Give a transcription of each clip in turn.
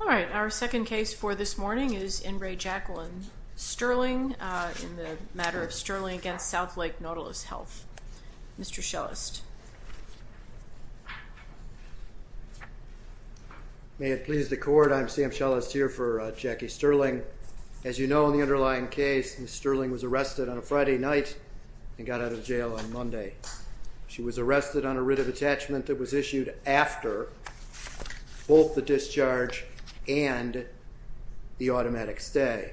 All right. Our second case for this morning is Inbray Jacqueline Sterling in the matter of Sterling against Southlake Nautilus Health. Mr. Schellest. May it please the court, I'm Sam Schellest here for Jackie Sterling. As you know, in the underlying case, Ms. Sterling was arrested on a Friday night and got out of jail on Monday. She was arrested on a writ of attachment that was issued after both the discharge and the Southlake,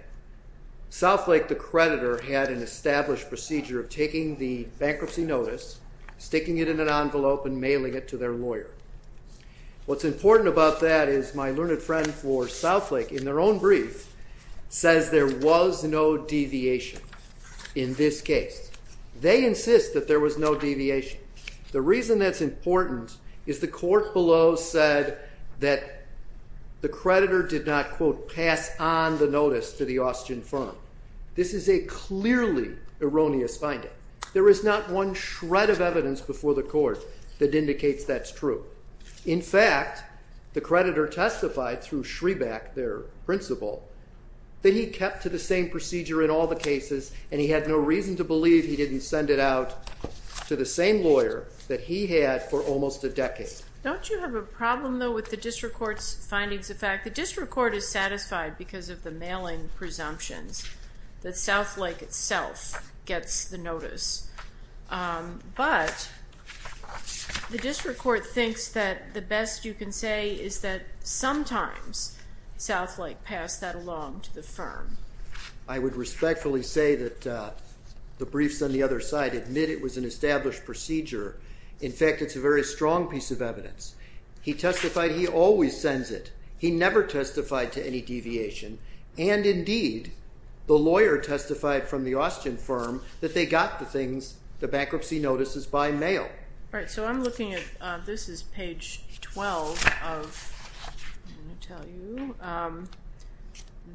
the creditor, had an established procedure of taking the bankruptcy notice, sticking it in an envelope, and mailing it to their lawyer. What's important about that is my learned friend for Southlake, in their own brief, says there was no deviation in this case. They insist that there was no deviation. The reason that's important is the court below said that the creditor did not, quote, pass on the notice to the Austrian firm. This is a clearly erroneous finding. There is not one shred of evidence before the court that indicates that's true. In fact, the creditor testified through Schreback, their principal, that he kept to the same brief. He didn't send it out to the same lawyer that he had for almost a decade. Don't you have a problem, though, with the district court's findings of fact? The district court is satisfied because of the mailing presumptions that Southlake itself gets the notice, but the district court thinks that the best you can say is that sometimes Southlake passed that along to the firm. I would respectfully say that the briefs on the other side admit it was an established procedure. In fact, it's a very strong piece of evidence. He testified he always sends it. He never testified to any deviation, and indeed, the lawyer testified from the Austrian firm that they got the things, the bankruptcy notices, by mail. I'm looking at page 12 of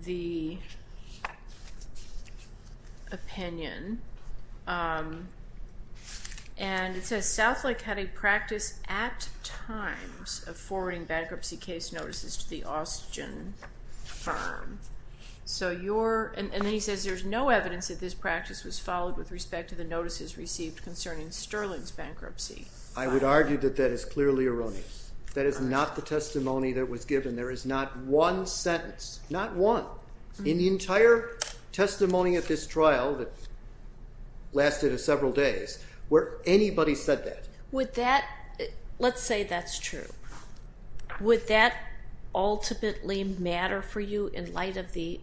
the opinion, and it says Southlake had a practice at times of forwarding bankruptcy case notices to the Austrian firm, and then he says there's no evidence that this practice was followed with respect to the notices received concerning Sterling's bankruptcy. I would argue that that is clearly erroneous. That is not the testimony that was given. There is not one sentence, not one, in the entire testimony of this trial that lasted several days, where anybody said that. Would that, let's say that's true, would that ultimately matter for you in light of the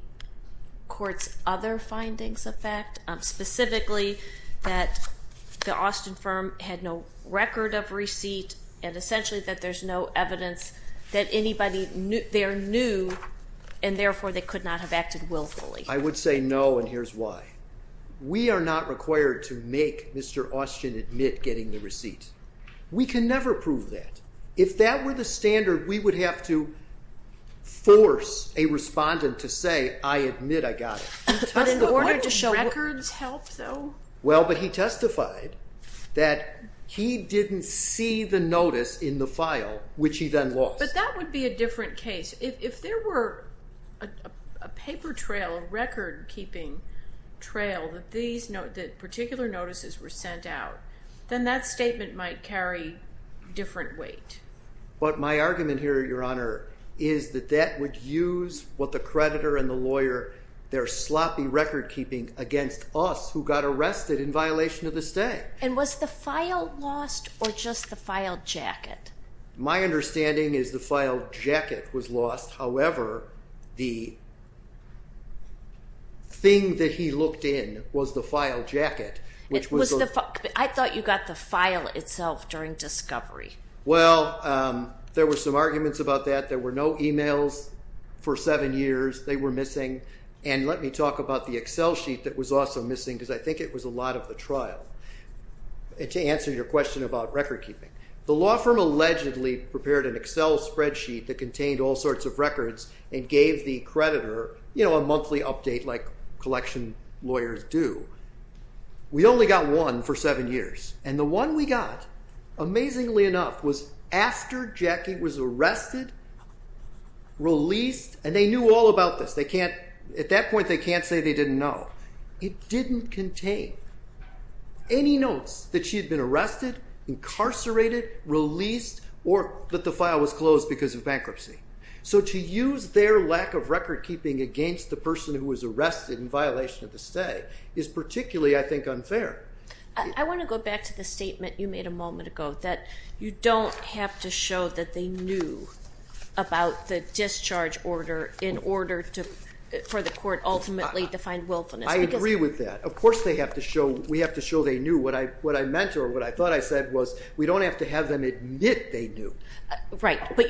Austrian firm had no record of receipt, and essentially that there's no evidence that anybody there knew, and therefore, they could not have acted willfully? I would say no, and here's why. We are not required to make Mr. Austrian admit getting the receipt. We can never prove that. If that were the standard, we would have to force a respondent to say, I admit I got it. But in order to show records help, though? Well, but he testified that he didn't see the notice in the file, which he then lost. But that would be a different case. If there were a paper trail, a record keeping trail, that particular notices were sent out, then that statement might carry different weight. But my argument here, Your Honor, is that that would use what the creditor and the lawyer, their sloppy record keeping against us, who got arrested in violation of the stay. And was the file lost, or just the file jacket? My understanding is the file jacket was lost. However, the thing that he looked in was the file jacket, which was the... I thought you got the file itself during discovery. Well, there were some arguments about that. There were no emails for seven years. They were missing. And let me talk about the Excel sheet that was also missing, because I think it was a lot of the trial, to answer your question about record keeping. The law firm allegedly prepared an Excel spreadsheet that contained all sorts of records and gave the creditor a monthly update like collection lawyers do. We only got one for seven years. And the one we got, amazingly enough, was after Jackie was arrested, released, and they knew all about this. They can't... At that point, they can't say they didn't know. It didn't contain any notes that she had been arrested, incarcerated, released, or that the file was closed because of bankruptcy. So to use their lack of record keeping against the person who was arrested in violation of the stay is particularly, I think, unfair. I want to go back to the statement you made a moment ago, that you don't have to show that they knew about the discharge order in order for the court ultimately to find willfulness. I agree with that. Of course, we have to show they knew. What I meant or what I thought I said was we don't have to have them admit they knew. Right. But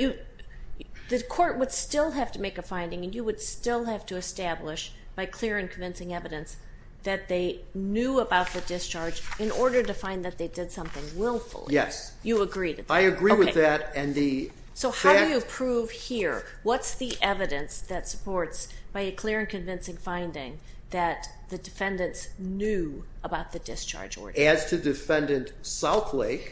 the court would still have to make a finding, and you would still have to establish by clear and convincing evidence that they knew about the discharge in order to find that they did something willfully. Yes. You agree with that? I agree with that, and the fact... So how do you prove here? What's the evidence that supports, by a clear and convincing finding, that the defendants knew about the discharge order? As to defendant Southlake,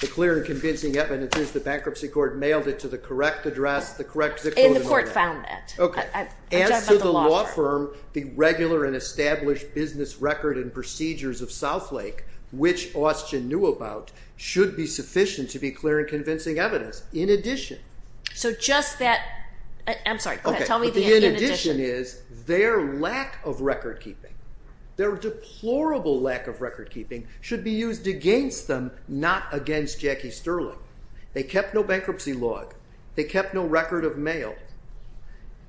the clear and convincing evidence is the bankruptcy court mailed it to the correct address, the correct zip code... And the court found that. Okay. As to the law firm, the regular and established business record and procedures of Southlake, which Austgen knew about, should be sufficient to be clear and convincing evidence. In addition... So just that... I'm sorry. Okay. Tell me the in addition. The in addition is their lack of record keeping. Their deplorable lack of record keeping should be used against them, not against Jackie Sterling. They kept no bankruptcy log. They kept no record of mail.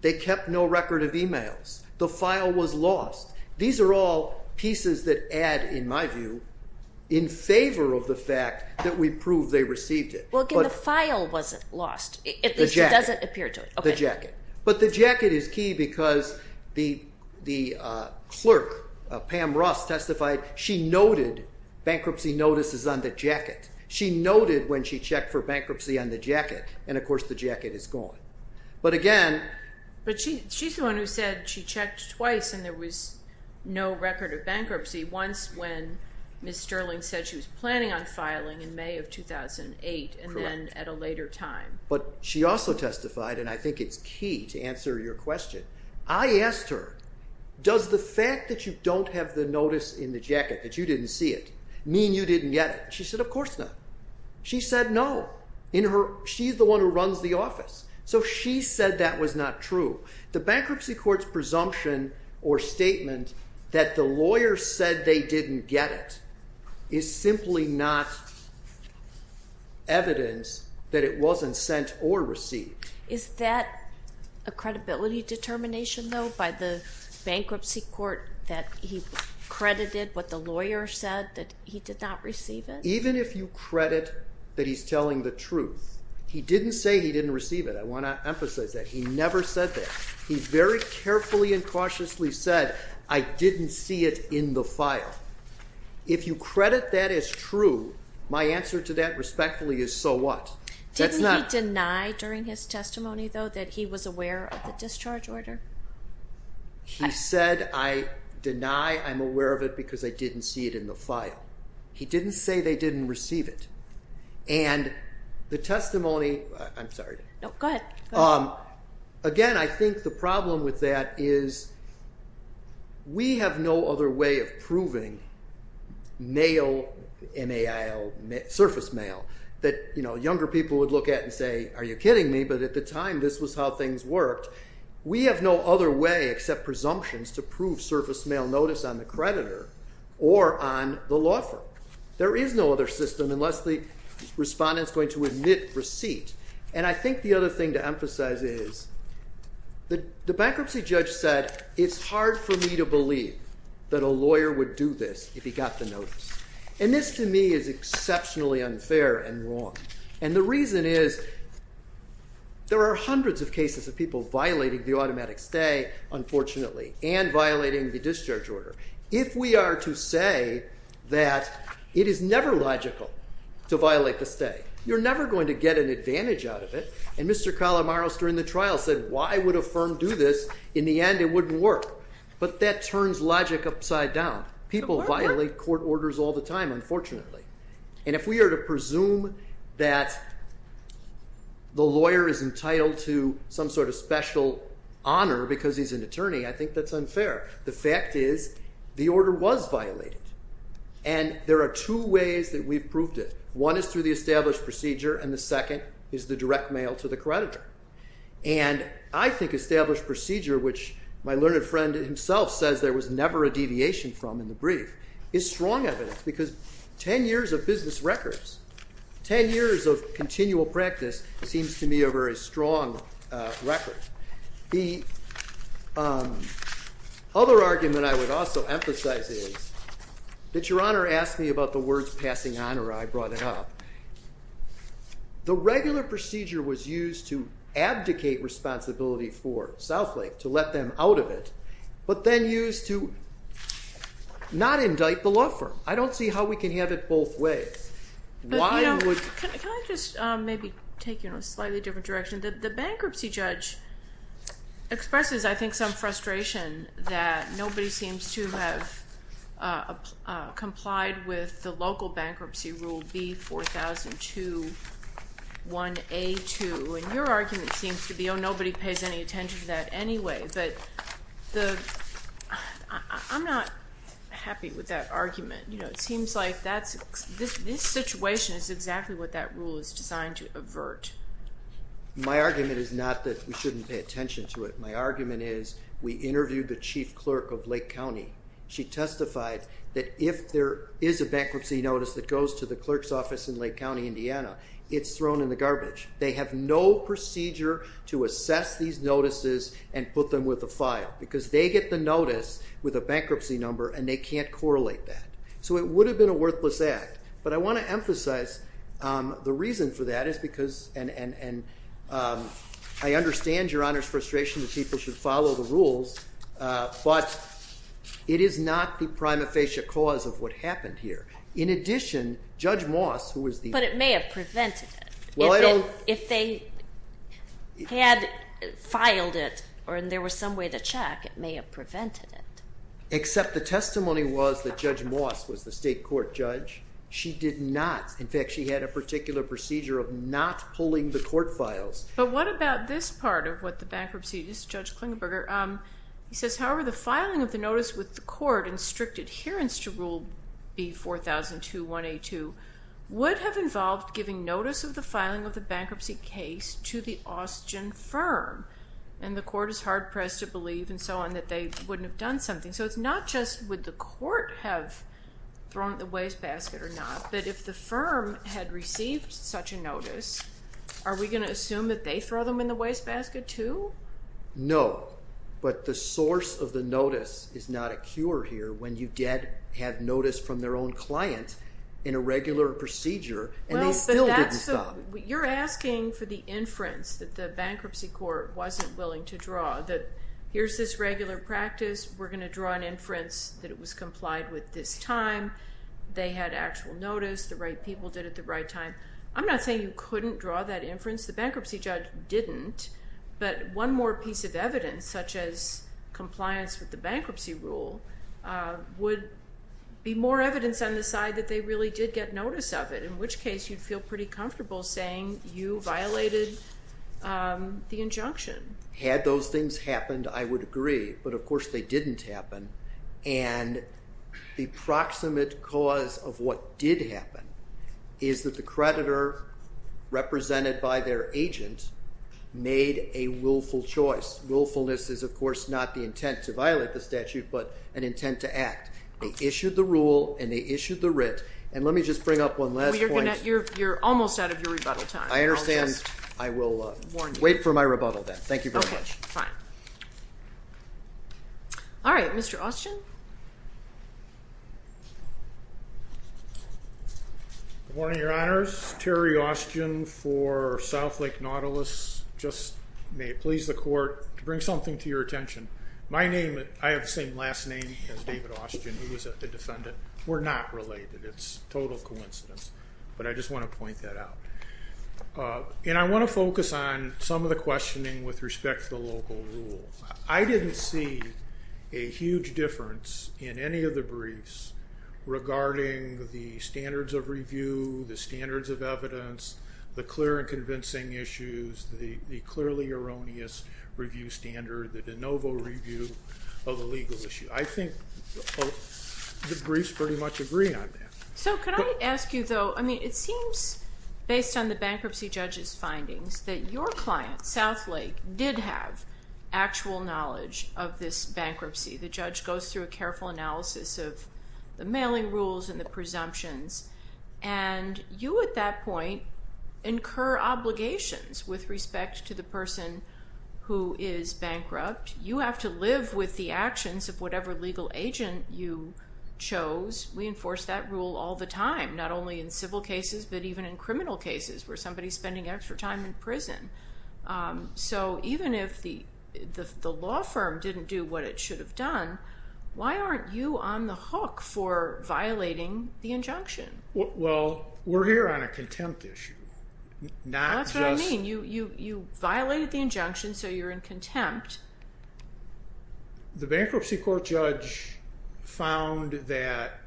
They kept no record of emails. The file was lost. These are all pieces that add, in my view, in favor of the fact that we proved they received it. Well, again, the file wasn't lost. At least it doesn't appear to it. Okay. The jacket. But the jacket is key because the clerk, Pam Ross testified, she noted bankruptcy notices on the jacket. She noted when she checked for bankruptcy on the jacket. And of course, the jacket is gone. But again... She's the one who said she checked twice and there was no record of bankruptcy. Once when Ms. Sterling said she was planning on filing in May of 2008. Correct. And then at a later time. But she also testified, and I think it's key to answer your question. I asked her, does the fact that you don't have the notice in the jacket, that you didn't see it, mean you didn't get it? She said, of course not. She said no. She's the one who runs the office. So she said that was not true. The bankruptcy court's presumption or statement that the lawyer said they didn't get it is simply not evidence that it wasn't sent or received. Is that a credibility determination though by the bankruptcy court that he credited what the lawyer said that he did not receive it? Even if you credit that he's telling the truth. He didn't say he didn't receive it. I want to emphasize that. He never said that. He very carefully and cautiously said, I didn't see it in the file. If you credit that as true, my answer to that respectfully is, so what? Didn't he deny during his testimony though that he was aware of the discharge order? He said, I deny I'm aware of it because I didn't see it in the file. He didn't say they didn't receive it. And the testimony, I'm sorry. No, go ahead. Again, I think the problem with that is we have no other way of proving surface mail that younger people would look at and say, are you kidding me? But at the time, this was how things worked. We have no other way except presumptions to prove surface mail notice on the creditor or on the law firm. There is no other system unless the respondent's going to admit receipt. And I think the other thing to emphasize is the bankruptcy judge said, it's hard for me to believe that a lawyer would do this if he got the notice. And this, to me, is exceptionally unfair and wrong. And the reason is there are hundreds of cases of people violating the automatic stay, unfortunately, and violating the discharge order. If we are to say that it is never logical to violate the stay, you're never going to get an advantage out of it. And Mr. Calamaros, during the trial, said, why would a firm do this? In the end, it wouldn't work. But that turns logic upside down. People violate court orders all the time, unfortunately. And if we are to presume that the lawyer is entitled to some sort of special honor because he's an attorney, I think that's unfair. The fact is the order was violated. And there are two ways that we've proved it. One is through the established procedure. And the second is the direct mail to the creditor. And I think established procedure, which my learned friend himself says there was never a deviation from in the brief, is strong evidence. Because 10 years of business records, 10 years of continual practice, seems to me a very strong record. The other argument I would also emphasize is that Your Honor asked me about the words passing on, or I brought it up. The regular procedure was used to abdicate responsibility for Southlake, to let them out of it, but then used to not indict the law firm. I don't see how we can have it both ways. Why would? Can I just maybe take you in a slightly different direction? The bankruptcy judge expresses, I think, some frustration that nobody seems to have complied with the local bankruptcy rule B4002-1A2. And your argument seems to be, oh, nobody pays any attention to that anyway. But I'm not happy with that argument. You know, it seems like this situation is exactly what that rule is designed to avert. My argument is not that we shouldn't pay attention to it. My argument is, we interviewed the chief clerk of Lake County. She testified that if there is a bankruptcy notice that goes to the clerk's office in Lake County, Indiana, it's thrown in the garbage. They have no procedure to assess these notices and put them with a file. Because they get the notice with a bankruptcy number, and they can't correlate that. So it would have been a worthless act. But I want to emphasize, the reason for that is because, and I understand Your Honor's frustration that people should follow the rules. But it is not the prima facie cause of what happened here. In addition, Judge Moss, who was the- But it may have prevented it. Well, I don't- If they had filed it, or there was some way to check, it may have prevented it. Except the testimony was that Judge Moss was the state court judge. She did not. In fact, she had a particular procedure of not pulling the court files. But what about this part of what the bankruptcy is? Judge Klingenberger, he says, however, the filing of the notice with the court in strict adherence to Rule B4002-1A2 would have involved giving notice of the filing of the bankruptcy case to the Austgen firm. And the court is hard-pressed to believe, and so on, that they wouldn't have done something. So it's not just, would the court have thrown it in the wastebasket or not? But if the firm had received such a notice, are we going to assume that they throw them in the wastebasket too? No. But the source of the notice is not a cure here, when you have notice from their own client in a regular procedure, and they still didn't stop it. You're asking for the inference that the bankruptcy court wasn't willing to draw, that here's this regular practice. We're going to draw an inference that it was complied with this time. They had actual notice. The right people did it the right time. I'm not saying you couldn't draw that inference. The bankruptcy judge didn't. But one more piece of evidence, such as compliance with the bankruptcy rule, would be more evidence on the side that they really did get notice of it, in which case you'd feel pretty comfortable saying you violated the injunction. Had those things happened, I would agree. But of course, they didn't happen. And the proximate cause of what did happen is that the creditor, represented by their agent, made a willful choice. Willfulness is, of course, not the intent to violate the statute, but an intent to act. They issued the rule, and they issued the writ. And let me just bring up one last point. You're almost out of your rebuttal time. I understand. I will wait for my rebuttal then. Thank you very much. Fine. All right, Mr. Austgen. Good morning, Your Honors. Terry Austgen for South Lake Nautilus. Just may it please the court to bring something to your attention. My name, I have the same last name as David Austgen, who was a defendant. We're not related. It's total coincidence. But I just want to point that out. And I want to focus on some of the questioning with respect to the local rule. I didn't see a huge difference in any of the briefs regarding the standards of review, the standards of evidence, the clear and convincing issues, the clearly erroneous review standard, the de novo review of the legal issue. I think the briefs pretty much agree on that. So could I ask you, though, I mean, it seems based on the bankruptcy judge's findings that your client, South Lake, did have actual knowledge of this bankruptcy. The judge goes through a careful analysis of the mailing rules and the presumptions. And you, at that point, incur obligations with respect to the person who is bankrupt. You have to live with the actions of whatever legal agent you chose. We enforce that rule all the time, not only in civil cases, but even in criminal cases, where somebody's spending extra time in prison. So even if the law firm didn't do what it should have done, why aren't you on the hook for violating the injunction? Well, we're here on a contempt issue. That's what I mean. You violated the injunction, so you're in contempt. The bankruptcy court judge found that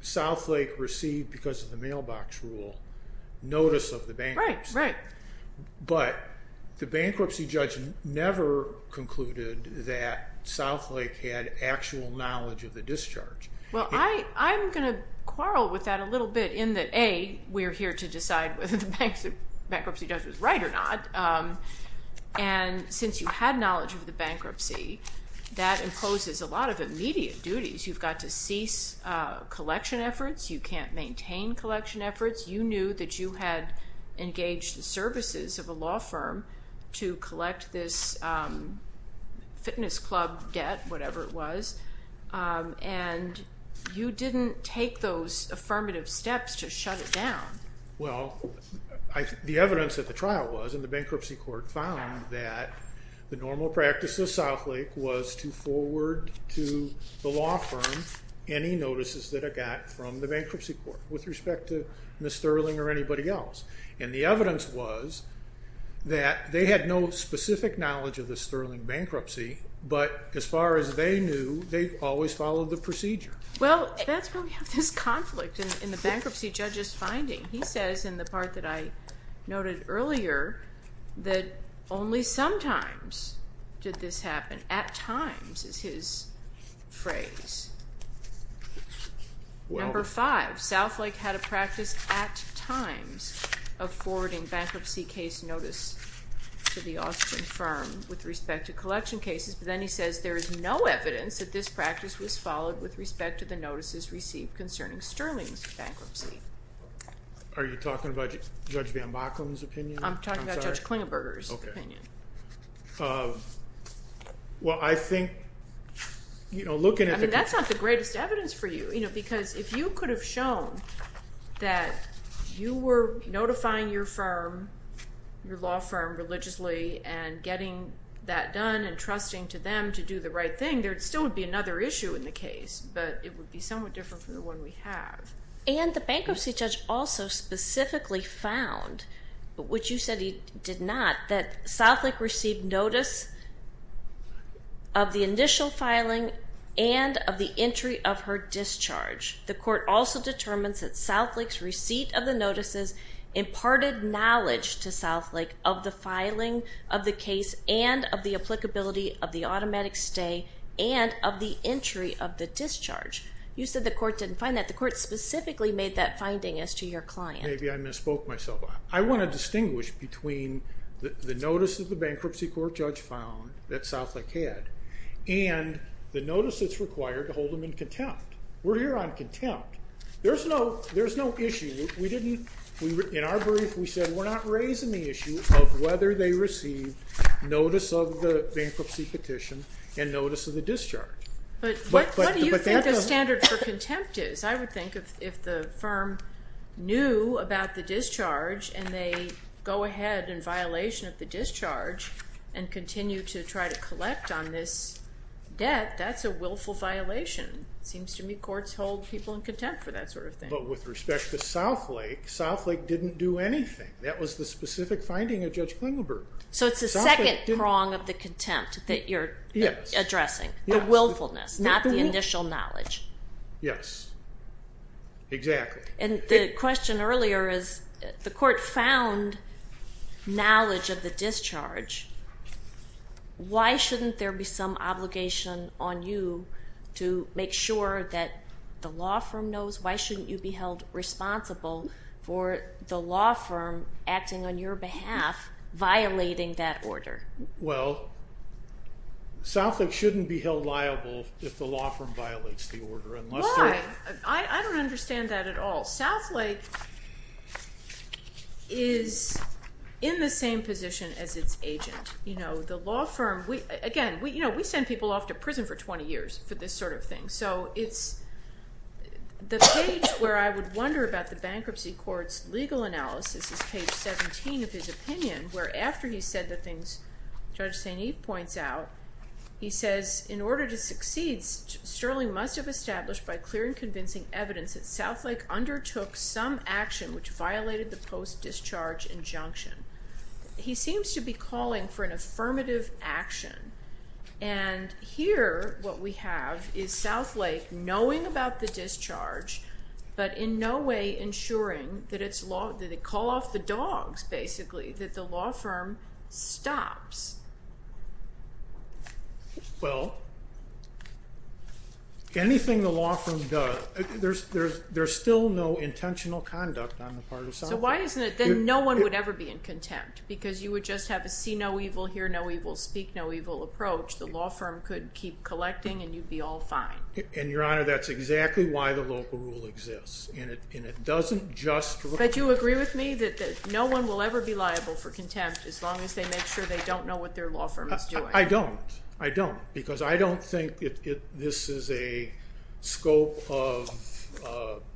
South Lake received, because of the mailbox rule, notice of the bankruptcy. Right, right. But the bankruptcy judge never concluded that South Lake had actual knowledge of the discharge. Well, I'm going to quarrel with that a little bit in that, A, we're here to decide whether the bankruptcy judge was right or not. And since you had knowledge of the bankruptcy, that imposes a lot of immediate duties. You've got to cease collection efforts. You can't maintain collection efforts. You knew that you had engaged the services of a law firm to collect this fitness club debt, whatever it was. And you didn't take those affirmative steps to shut it down. Well, the evidence at the trial was, and the bankruptcy court found, that the normal practice of South Lake was to forward to the law firm any notices that it got from the bankruptcy court with respect to Ms. Sterling or anybody else. And the evidence was that they had no specific knowledge of the Sterling bankruptcy, but as far as they knew, they always followed the procedure. Well, that's where we have this conflict in the bankruptcy judge's finding. He says, in the part that I noted earlier, that only sometimes did this happen. At times is his phrase. Number five, South Lake had a practice at times of forwarding bankruptcy case notice to the Austin firm with respect to collection cases, but then he says there is no evidence that this practice was followed with respect to the notices received concerning Sterling's bankruptcy. Are you talking about Judge Van Backen's opinion? I'm talking about Judge Klingenberger's opinion. Well, I think, you know, looking at the- I mean, that's not the greatest evidence for you, you know, because if you could have shown that you were notifying your firm, your law firm, religiously and getting that done and trusting to them to do the right thing, there still would be another issue in the case, but it would be somewhat different from the one we have. And the bankruptcy judge also specifically found, which you said he did not, that South Lake received notice of the initial filing and of the entry of her discharge. The court also determines that South Lake's receipt of the notices imparted knowledge to South Lake of the filing of the case and of the applicability of the automatic stay and of the entry of the discharge. You said the court didn't find that. The court specifically made that finding as to your client. Maybe I misspoke myself. I want to distinguish between the notice that the bankruptcy court judge found that South Lake had and the notice that's required to hold them in contempt. We're here on contempt. There's no issue. In our brief, we said we're not raising the issue of whether they received notice of the bankruptcy petition and notice of the discharge. But what do you think the standard for contempt is? I would think if the firm knew about the discharge and they go ahead in violation of the discharge and continue to try to collect on this debt, that's a willful violation. Seems to me courts hold people in contempt for that sort of thing. But with respect to South Lake, South Lake didn't do anything. That was the specific finding of Judge Klingelberger. So it's the second prong of the contempt that you're addressing, the willfulness, not the initial knowledge. Yes, exactly. And the question earlier is the court found knowledge of the discharge. Why shouldn't there be some obligation on you to make sure that the law firm knows? Why shouldn't you be held responsible for the law firm acting on your behalf, violating that order? Well, South Lake shouldn't be held liable if the law firm violates the order. I don't understand that at all. South Lake is in the same position as its agent. Again, we send people off to prison for 20 years for this sort of thing. So the page where I would wonder about the bankruptcy court's legal analysis is page 17 of his opinion, where after he said the things Judge St. Eve points out, he says, in order to succeed, Sterling must have established by clear and convincing evidence that South Lake undertook some action which violated the post-discharge injunction. He seems to be calling for an affirmative action. And here what we have is South Lake knowing about the discharge, but in no way ensuring that they call off the dogs, basically, that the law firm stops. Well, anything the law firm does, there's still no intentional conduct on the part of South Lake. So why isn't it that no one would ever be in contempt? Because you would just have a see no evil, hear no evil, speak no evil approach. The law firm could keep collecting, and you'd be all fine. And Your Honor, that's exactly why the local rule exists. And it doesn't just... But you agree with me that no one will ever be liable for contempt, as long as they make sure they don't know what their law firm is doing? I don't. I don't. Because I don't think this is a scope of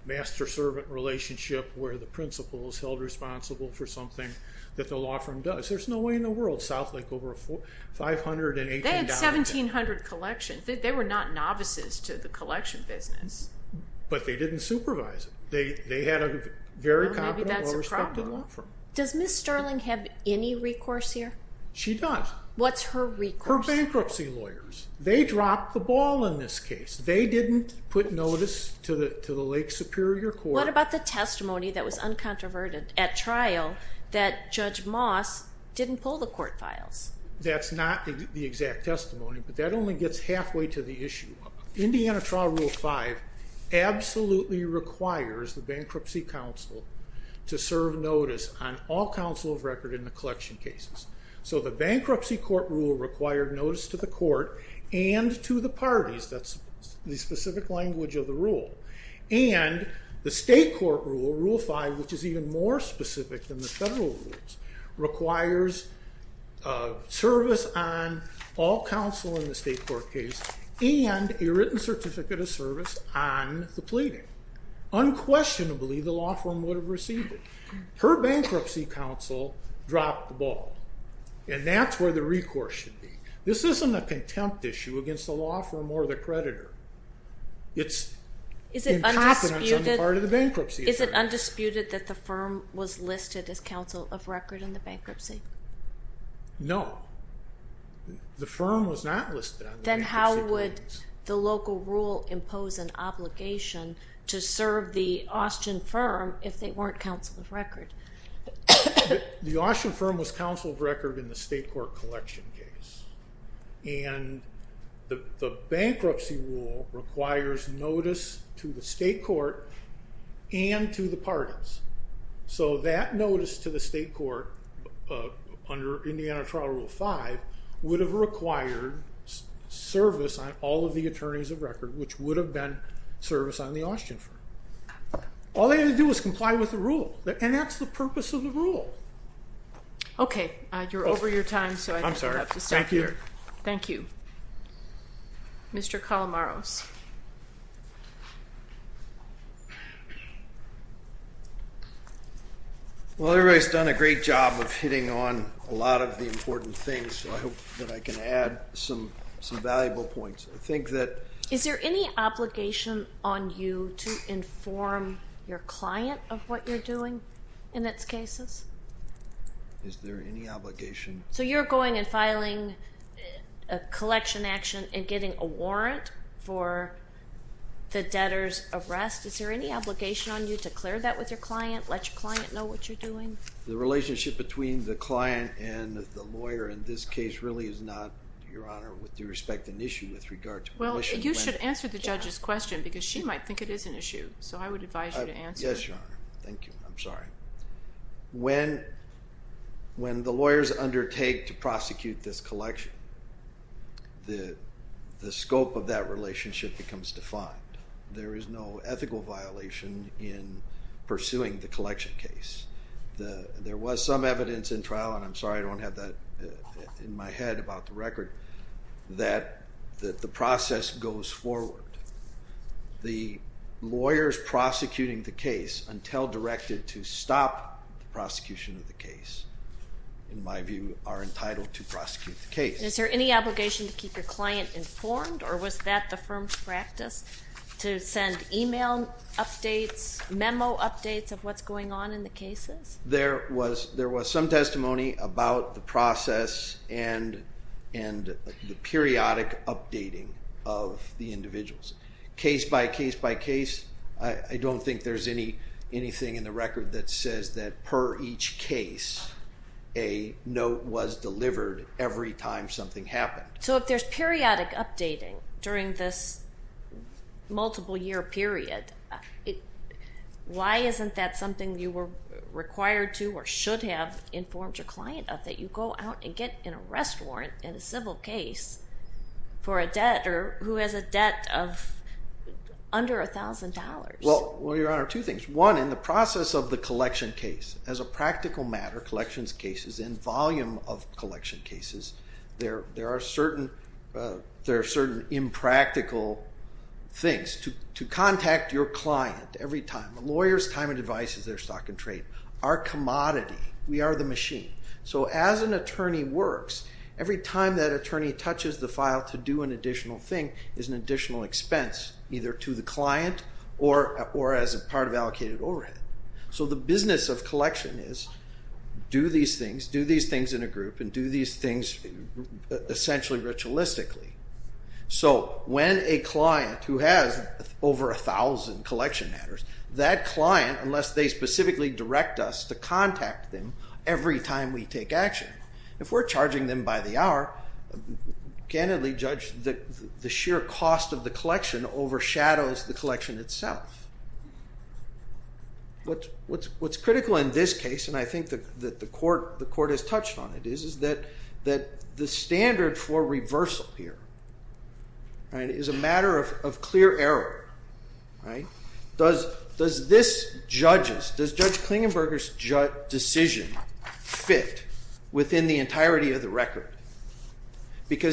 master-servant relationship, where the principal is held responsible for something that the law firm does. There's no way in the world South Lake over a $518... They had 1,700 collections. They were not novices to the collection business. But they didn't supervise it. They had a very competent, well-respected law firm. Does Ms. Sterling have any recourse here? She does. What's her recourse? Her bankruptcy lawyers. They dropped the ball in this case. They didn't put notice to the Lake Superior Court. What about the testimony that was uncontroverted at trial that Judge Moss didn't pull the court files? That's not the exact testimony, but that only gets halfway to the issue. Indiana Trial Rule 5 absolutely requires the bankruptcy counsel to serve notice on all counsel of record in the collection cases. So the bankruptcy court rule required notice to the court and to the parties. That's the specific language of the rule. And the state court rule, Rule 5, which is even more specific than the federal rules, requires service on all counsel in the state court case and a written certificate of service on the pleading. Unquestionably, the law firm would have received it. Her bankruptcy counsel dropped the ball. And that's where the recourse should be. This isn't a contempt issue against the law firm or the creditor. It's incompetence on the part of the bankruptcy attorney. Is it undisputed that the firm was listed as counsel of record in the bankruptcy? No. The firm was not listed on the bankruptcy. Then how would the local rule impose an obligation to serve the Austin firm if they weren't counsel of record? The Austin firm was counsel of record in the state court collection case. And the bankruptcy rule requires notice to the state court and to the parties. So that notice to the state court under Indiana Trial Rule 5 would have required service on all of the attorneys of record, which would have been service on the Austin firm. All they had to do was comply with the rule. And that's the purpose of the rule. Okay. You're over your time, so I think we'll have to stop here. Thank you. Mr. Calamaros. Well, everybody's done a great job of hitting on a lot of the important things, so I hope that I can add some valuable points. Is there any obligation on you to inform your client of what you're doing in its cases? Is there any obligation? So you're going and filing a collection action and getting a warrant for the debtor's arrest. Is there any obligation on you to clear that with your client, let your client know what you're doing? The relationship between the client and the lawyer in this case really is not, Your Honor, with due respect, an issue with regard to pollution. Well, you should answer the judge's question, because she might think it is an issue. So I would advise you to answer. Yes, Your Honor. Thank you. I'm sorry. When the lawyers undertake to prosecute this collection, the scope of that relationship becomes defined. There is no ethical violation in pursuing the collection case. There was some evidence in trial, and I'm sorry I don't have that in my head about the record, that the process goes forward. The lawyers prosecuting the case until directed to stop the prosecution of the case, in my view, are entitled to prosecute the case. Is there any obligation to keep your client informed, or was that the firm's practice, to send email updates, memo updates of what's going on in the cases? There was some testimony about the process and the periodic updating of the individuals. Case by case by case, I don't think there's anything in the record that says that, per each case, a note was delivered every time something happened. So if there's periodic updating during this multiple-year period, why isn't that something you were required to, or should have, informed your client of, that you go out and get an arrest warrant in a civil case for a debt, or who has a debt of under $1,000? Well, Your Honor, two things. One, in the process of the collection case, as a practical matter, collections cases, in volume of collection cases, there are certain impractical things. To contact your client every time. A lawyer's time and advice is their stock and trade. Our commodity, we are the machine. So as an attorney works, every time that attorney touches the file to do an additional thing is an additional expense, either to the client or as a part of allocated overhead. So the business of collection is, do these things, do these things in a group, and do these things essentially ritualistically. So when a client who has over 1,000 collection matters, that client, unless they specifically direct us to contact them every time we take action, if we're charging them by the hour, candidly, Judge, the sheer cost of the collection overshadows the collection itself. What's critical in this case, and I think that the Court has touched on it, is that the standard for reversal here is a matter of clear error. Does Judge Klingenberger's decision fit within the entirety of the record?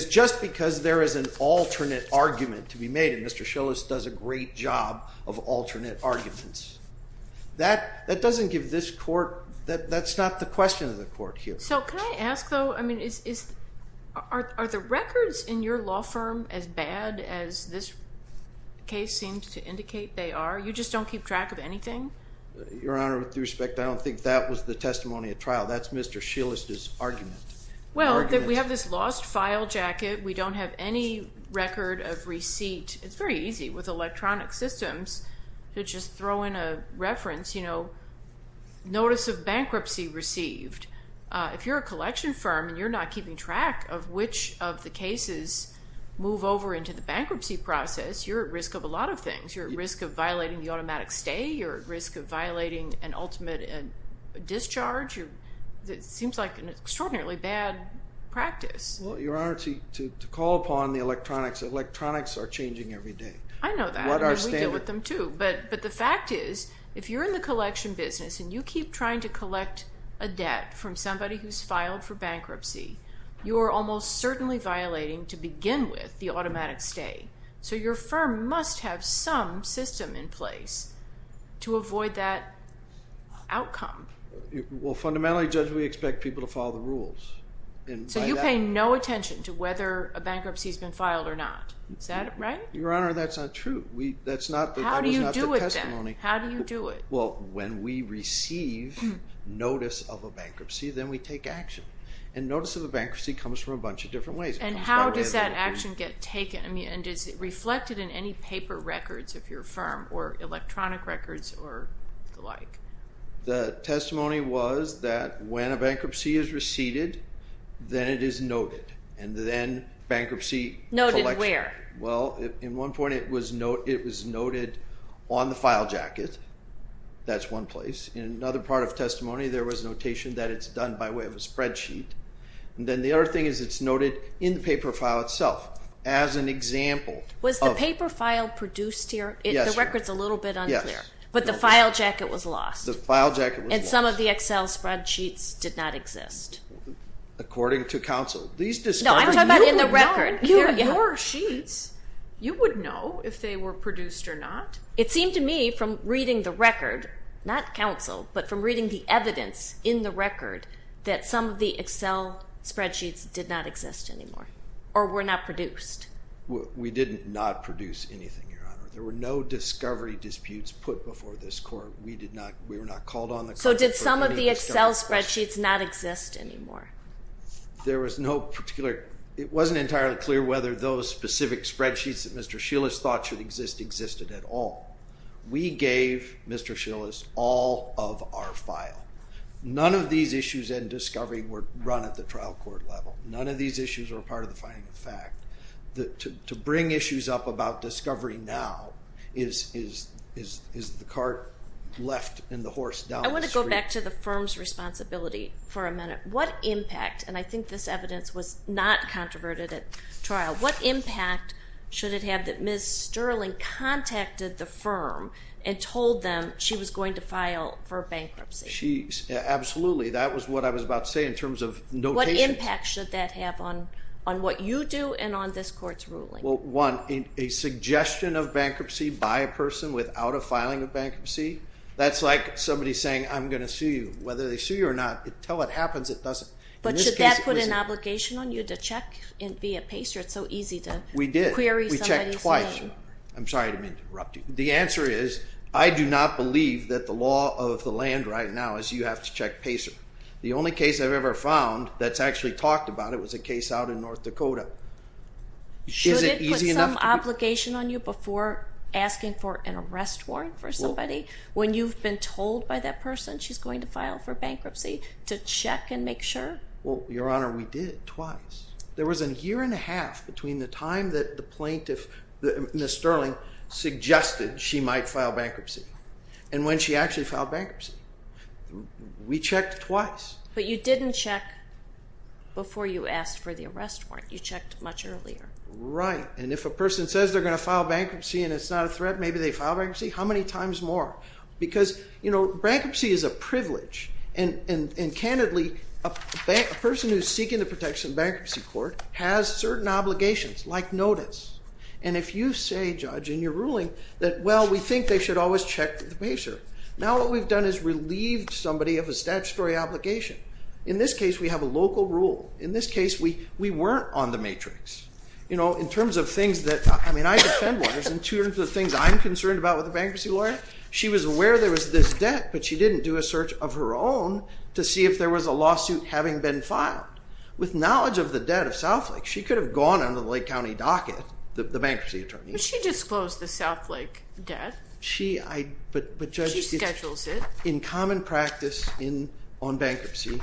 Just because there is an alternate argument to be made, and Mr. Schillis does a great job of alternate arguments, that doesn't give this Court, that's not the question of the Court here. So can I ask though, I mean, are the records in your law firm as bad as this case seems to indicate they are? You just don't keep track of anything? Your Honor, with respect, I don't think that was the testimony at trial. That's Mr. Schillis' argument. Well, we have this lost file jacket. We don't have any record of receipt. It's very easy with electronic systems to just throw in a reference, you know, notice of bankruptcy received. If you're a collection firm and you're not keeping track of which of the cases move over into the bankruptcy process, you're at risk of a lot of things. You're at risk of violating the automatic stay. You're at risk of violating an ultimate discharge. It seems like an extraordinarily bad practice. Well, Your Honor, to call upon the electronics, electronics are changing every day. I know that. We deal with them too. But the fact is, if you're in the collection business and you keep trying to collect a debt from somebody who's filed for bankruptcy, you are almost certainly violating, to begin with, the automatic stay. So your firm must have some system in place to avoid that outcome. Well, fundamentally, Judge, we expect people to follow the rules. So you pay no attention to whether a bankruptcy has been filed or not. Is that right? Your Honor, that's not true. How do you do it then? How do you do it? Well, when we receive notice of a bankruptcy, then we take action. And notice of a bankruptcy comes from a bunch of different ways. And how does that action get taken? I mean, and is it reflected in any paper records of your firm or electronic records or the like? The testimony was that when a bankruptcy is receded, then it is noted. And then bankruptcy collection. Noted where? Well, in one point, it was noted on the file jacket. That's one place. In another part of testimony, there was notation that it's done by way of a spreadsheet. And then the other thing is it's noted in the paper file itself as an example. Was the paper file produced here? Yes, Your Honor. The record's a little bit unclear. Yes. But the file jacket was lost. The file jacket was lost. And some of the Excel spreadsheets did not exist. According to counsel, these discoveries... No, I'm talking about in the record. Your sheets, you would know if they were produced or not. It seemed to me from reading the record, not counsel, but from reading the evidence in the record that some of the Excel spreadsheets did not exist anymore or were not produced. We did not produce anything, Your Honor. There were no discovery disputes put before this court. We did not... We were not called on the court... So did some of the Excel spreadsheets not exist anymore? There was no particular... It wasn't entirely clear whether those specific spreadsheets that Mr. Schillis thought should exist existed at all. We gave Mr. Schillis all of our file. None of these issues in discovery were run at the trial court level. None of these issues were part of the finding of fact. To bring issues up about discovery now is the cart left and the horse down the street. I want to go back to the firm's responsibility for a minute. What impact, and I think this evidence was not controverted at trial, what impact should it have that Ms. Sterling contacted the firm and told them she was going to file for bankruptcy? She... Absolutely. That was what I was about to say in terms of notation. What impact should that have on what you do and on this court's ruling? Well, one, a suggestion of bankruptcy by a person without a filing of bankruptcy? That's like somebody saying, I'm going to sue you. Whether they sue you or not, until it happens, it doesn't. But should that put an obligation on you to check via PACER? It's so easy to query somebody's name. We did. We checked twice. I'm sorry to interrupt you. The answer is I do not believe that the law of the land right now is you have to check PACER. The only case I've ever found that's actually talked about it was a case out in North Dakota. Should it put some obligation on you before asking for an arrest warrant for somebody when you've been told by that person she's going to file for bankruptcy to check and make sure? Well, Your Honor, we did, twice. There was a year and a half between the time that the plaintiff, Ms. Sterling, suggested she might file bankruptcy and when she actually filed bankruptcy. We checked twice. But you didn't check before you asked for the arrest warrant. You checked much earlier. Right. And if a person says they're going to file bankruptcy and it's not a threat, maybe they file bankruptcy. How many times more? Because bankruptcy is a privilege. And candidly, a person who's seeking the protection of bankruptcy court has certain obligations, like notice. And if you say, Judge, in your ruling that, well, we think they should always check the PACER. Now what we've done is relieved somebody of a statutory obligation. In this case, we have a local rule. In this case, we weren't on the matrix. In terms of things that, I mean, I defend lawyers in terms of the things I'm concerned about with a bankruptcy lawyer. She was aware there was this debt, but she didn't do a search of her own to see if there was a lawsuit having been filed. With knowledge of the debt of Southlake, she could have gone under the Lake County docket, the bankruptcy attorney. But she disclosed the Southlake debt. She schedules it. In common practice on bankruptcy,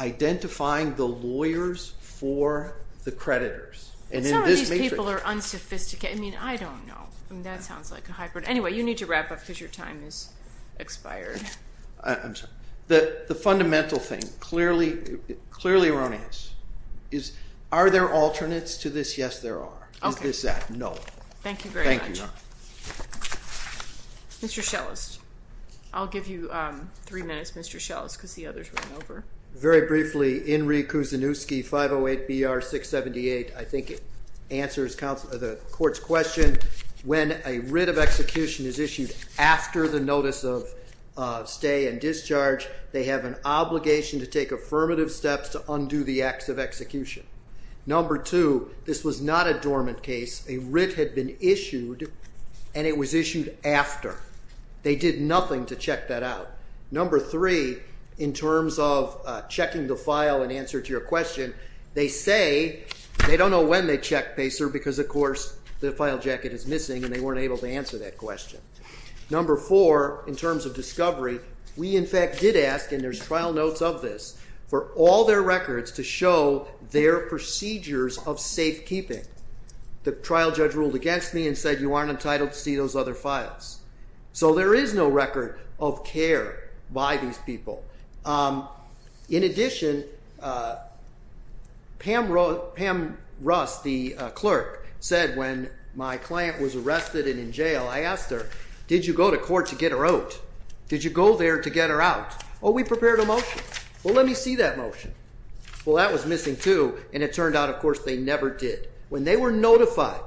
identifying the lawyers for the creditors. And some of these people are unsophisticated. I mean, I don't know. That sounds like a hybrid. Anyway, you need to wrap up because your time has expired. I'm sorry. The fundamental thing, clearly erroneous, is are there alternates to this? Yes, there are. Is this that? No. Thank you very much. Thank you. Mr. Schellest. I'll give you three minutes, Mr. Schellest, because the others ran over. Very briefly, Inree Kuzanuski, 508-BR-678. I think it answers the court's question. When a writ of execution is issued after the notice of stay and discharge, they have an obligation to take affirmative steps to undo the acts of execution. Number two, this was not a dormant case. A writ had been issued, and it was issued after. They did nothing to check that out. Number three, in terms of checking the file in answer to your question, they say they don't know when they checked, because, of course, the file jacket is missing, and they weren't able to answer that question. Number four, in terms of discovery, we, in fact, did ask, and there's trial notes of this, for all their records to show their procedures of safekeeping. The trial judge ruled against me and said, you aren't entitled to see those other files. So there is no record of care by these people. In addition, Pam Russ, the clerk, said when my client was arrested and in jail, I asked her, did you go to court to get her out? Did you go there to get her out? Oh, we prepared a motion. Well, let me see that motion. Well, that was missing, too, and it turned out, of course, they never did. When they were notified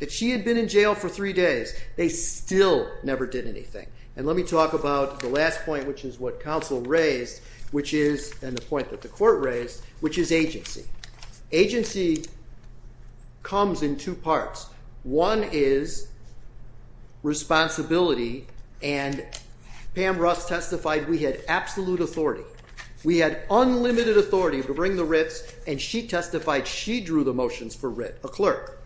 that she had been in jail for three days, they still never did anything. And let me talk about the last point, which is what counsel raised, which is, and the point that the court raised, which is agency. Agency comes in two parts. One is responsibility, and Pam Russ testified we had absolute authority. We had unlimited authority to bring the writs, and she testified she drew the motions for it, a clerk,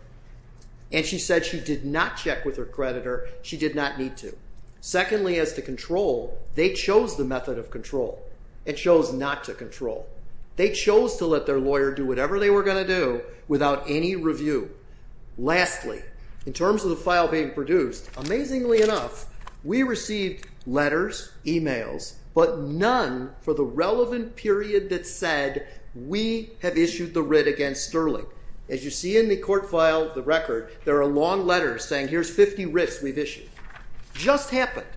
and she said she did not check with her creditor. She did not need to. Secondly, as to control, they chose the method of control and chose not to control. They chose to let their lawyer do whatever they were going to do without any review. Lastly, in terms of the file being produced, amazingly enough, we received letters, emails, but none for the relevant period that said we have issued the writ against Sterling. As you see in the court file, the record, there are long letters saying here's 50 writs we've issued. Just happened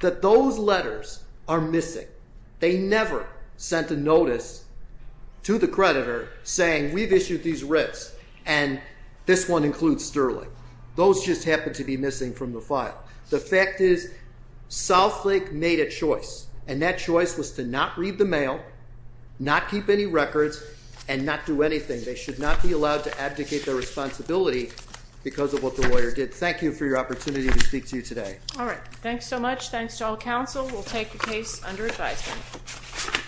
that those letters are missing. They never sent a notice to the creditor saying we've issued these writs, and this one includes Sterling. Those just happened to be missing from the file. The fact is Southlake made a choice, and that choice was to not read the mail, not keep any records, and not do anything. They should not be allowed to abdicate their responsibility because of what the lawyer did. Thank you for your opportunity to speak to you today. All right. Thanks so much. Thanks to all counsel. We'll take the case under advisement.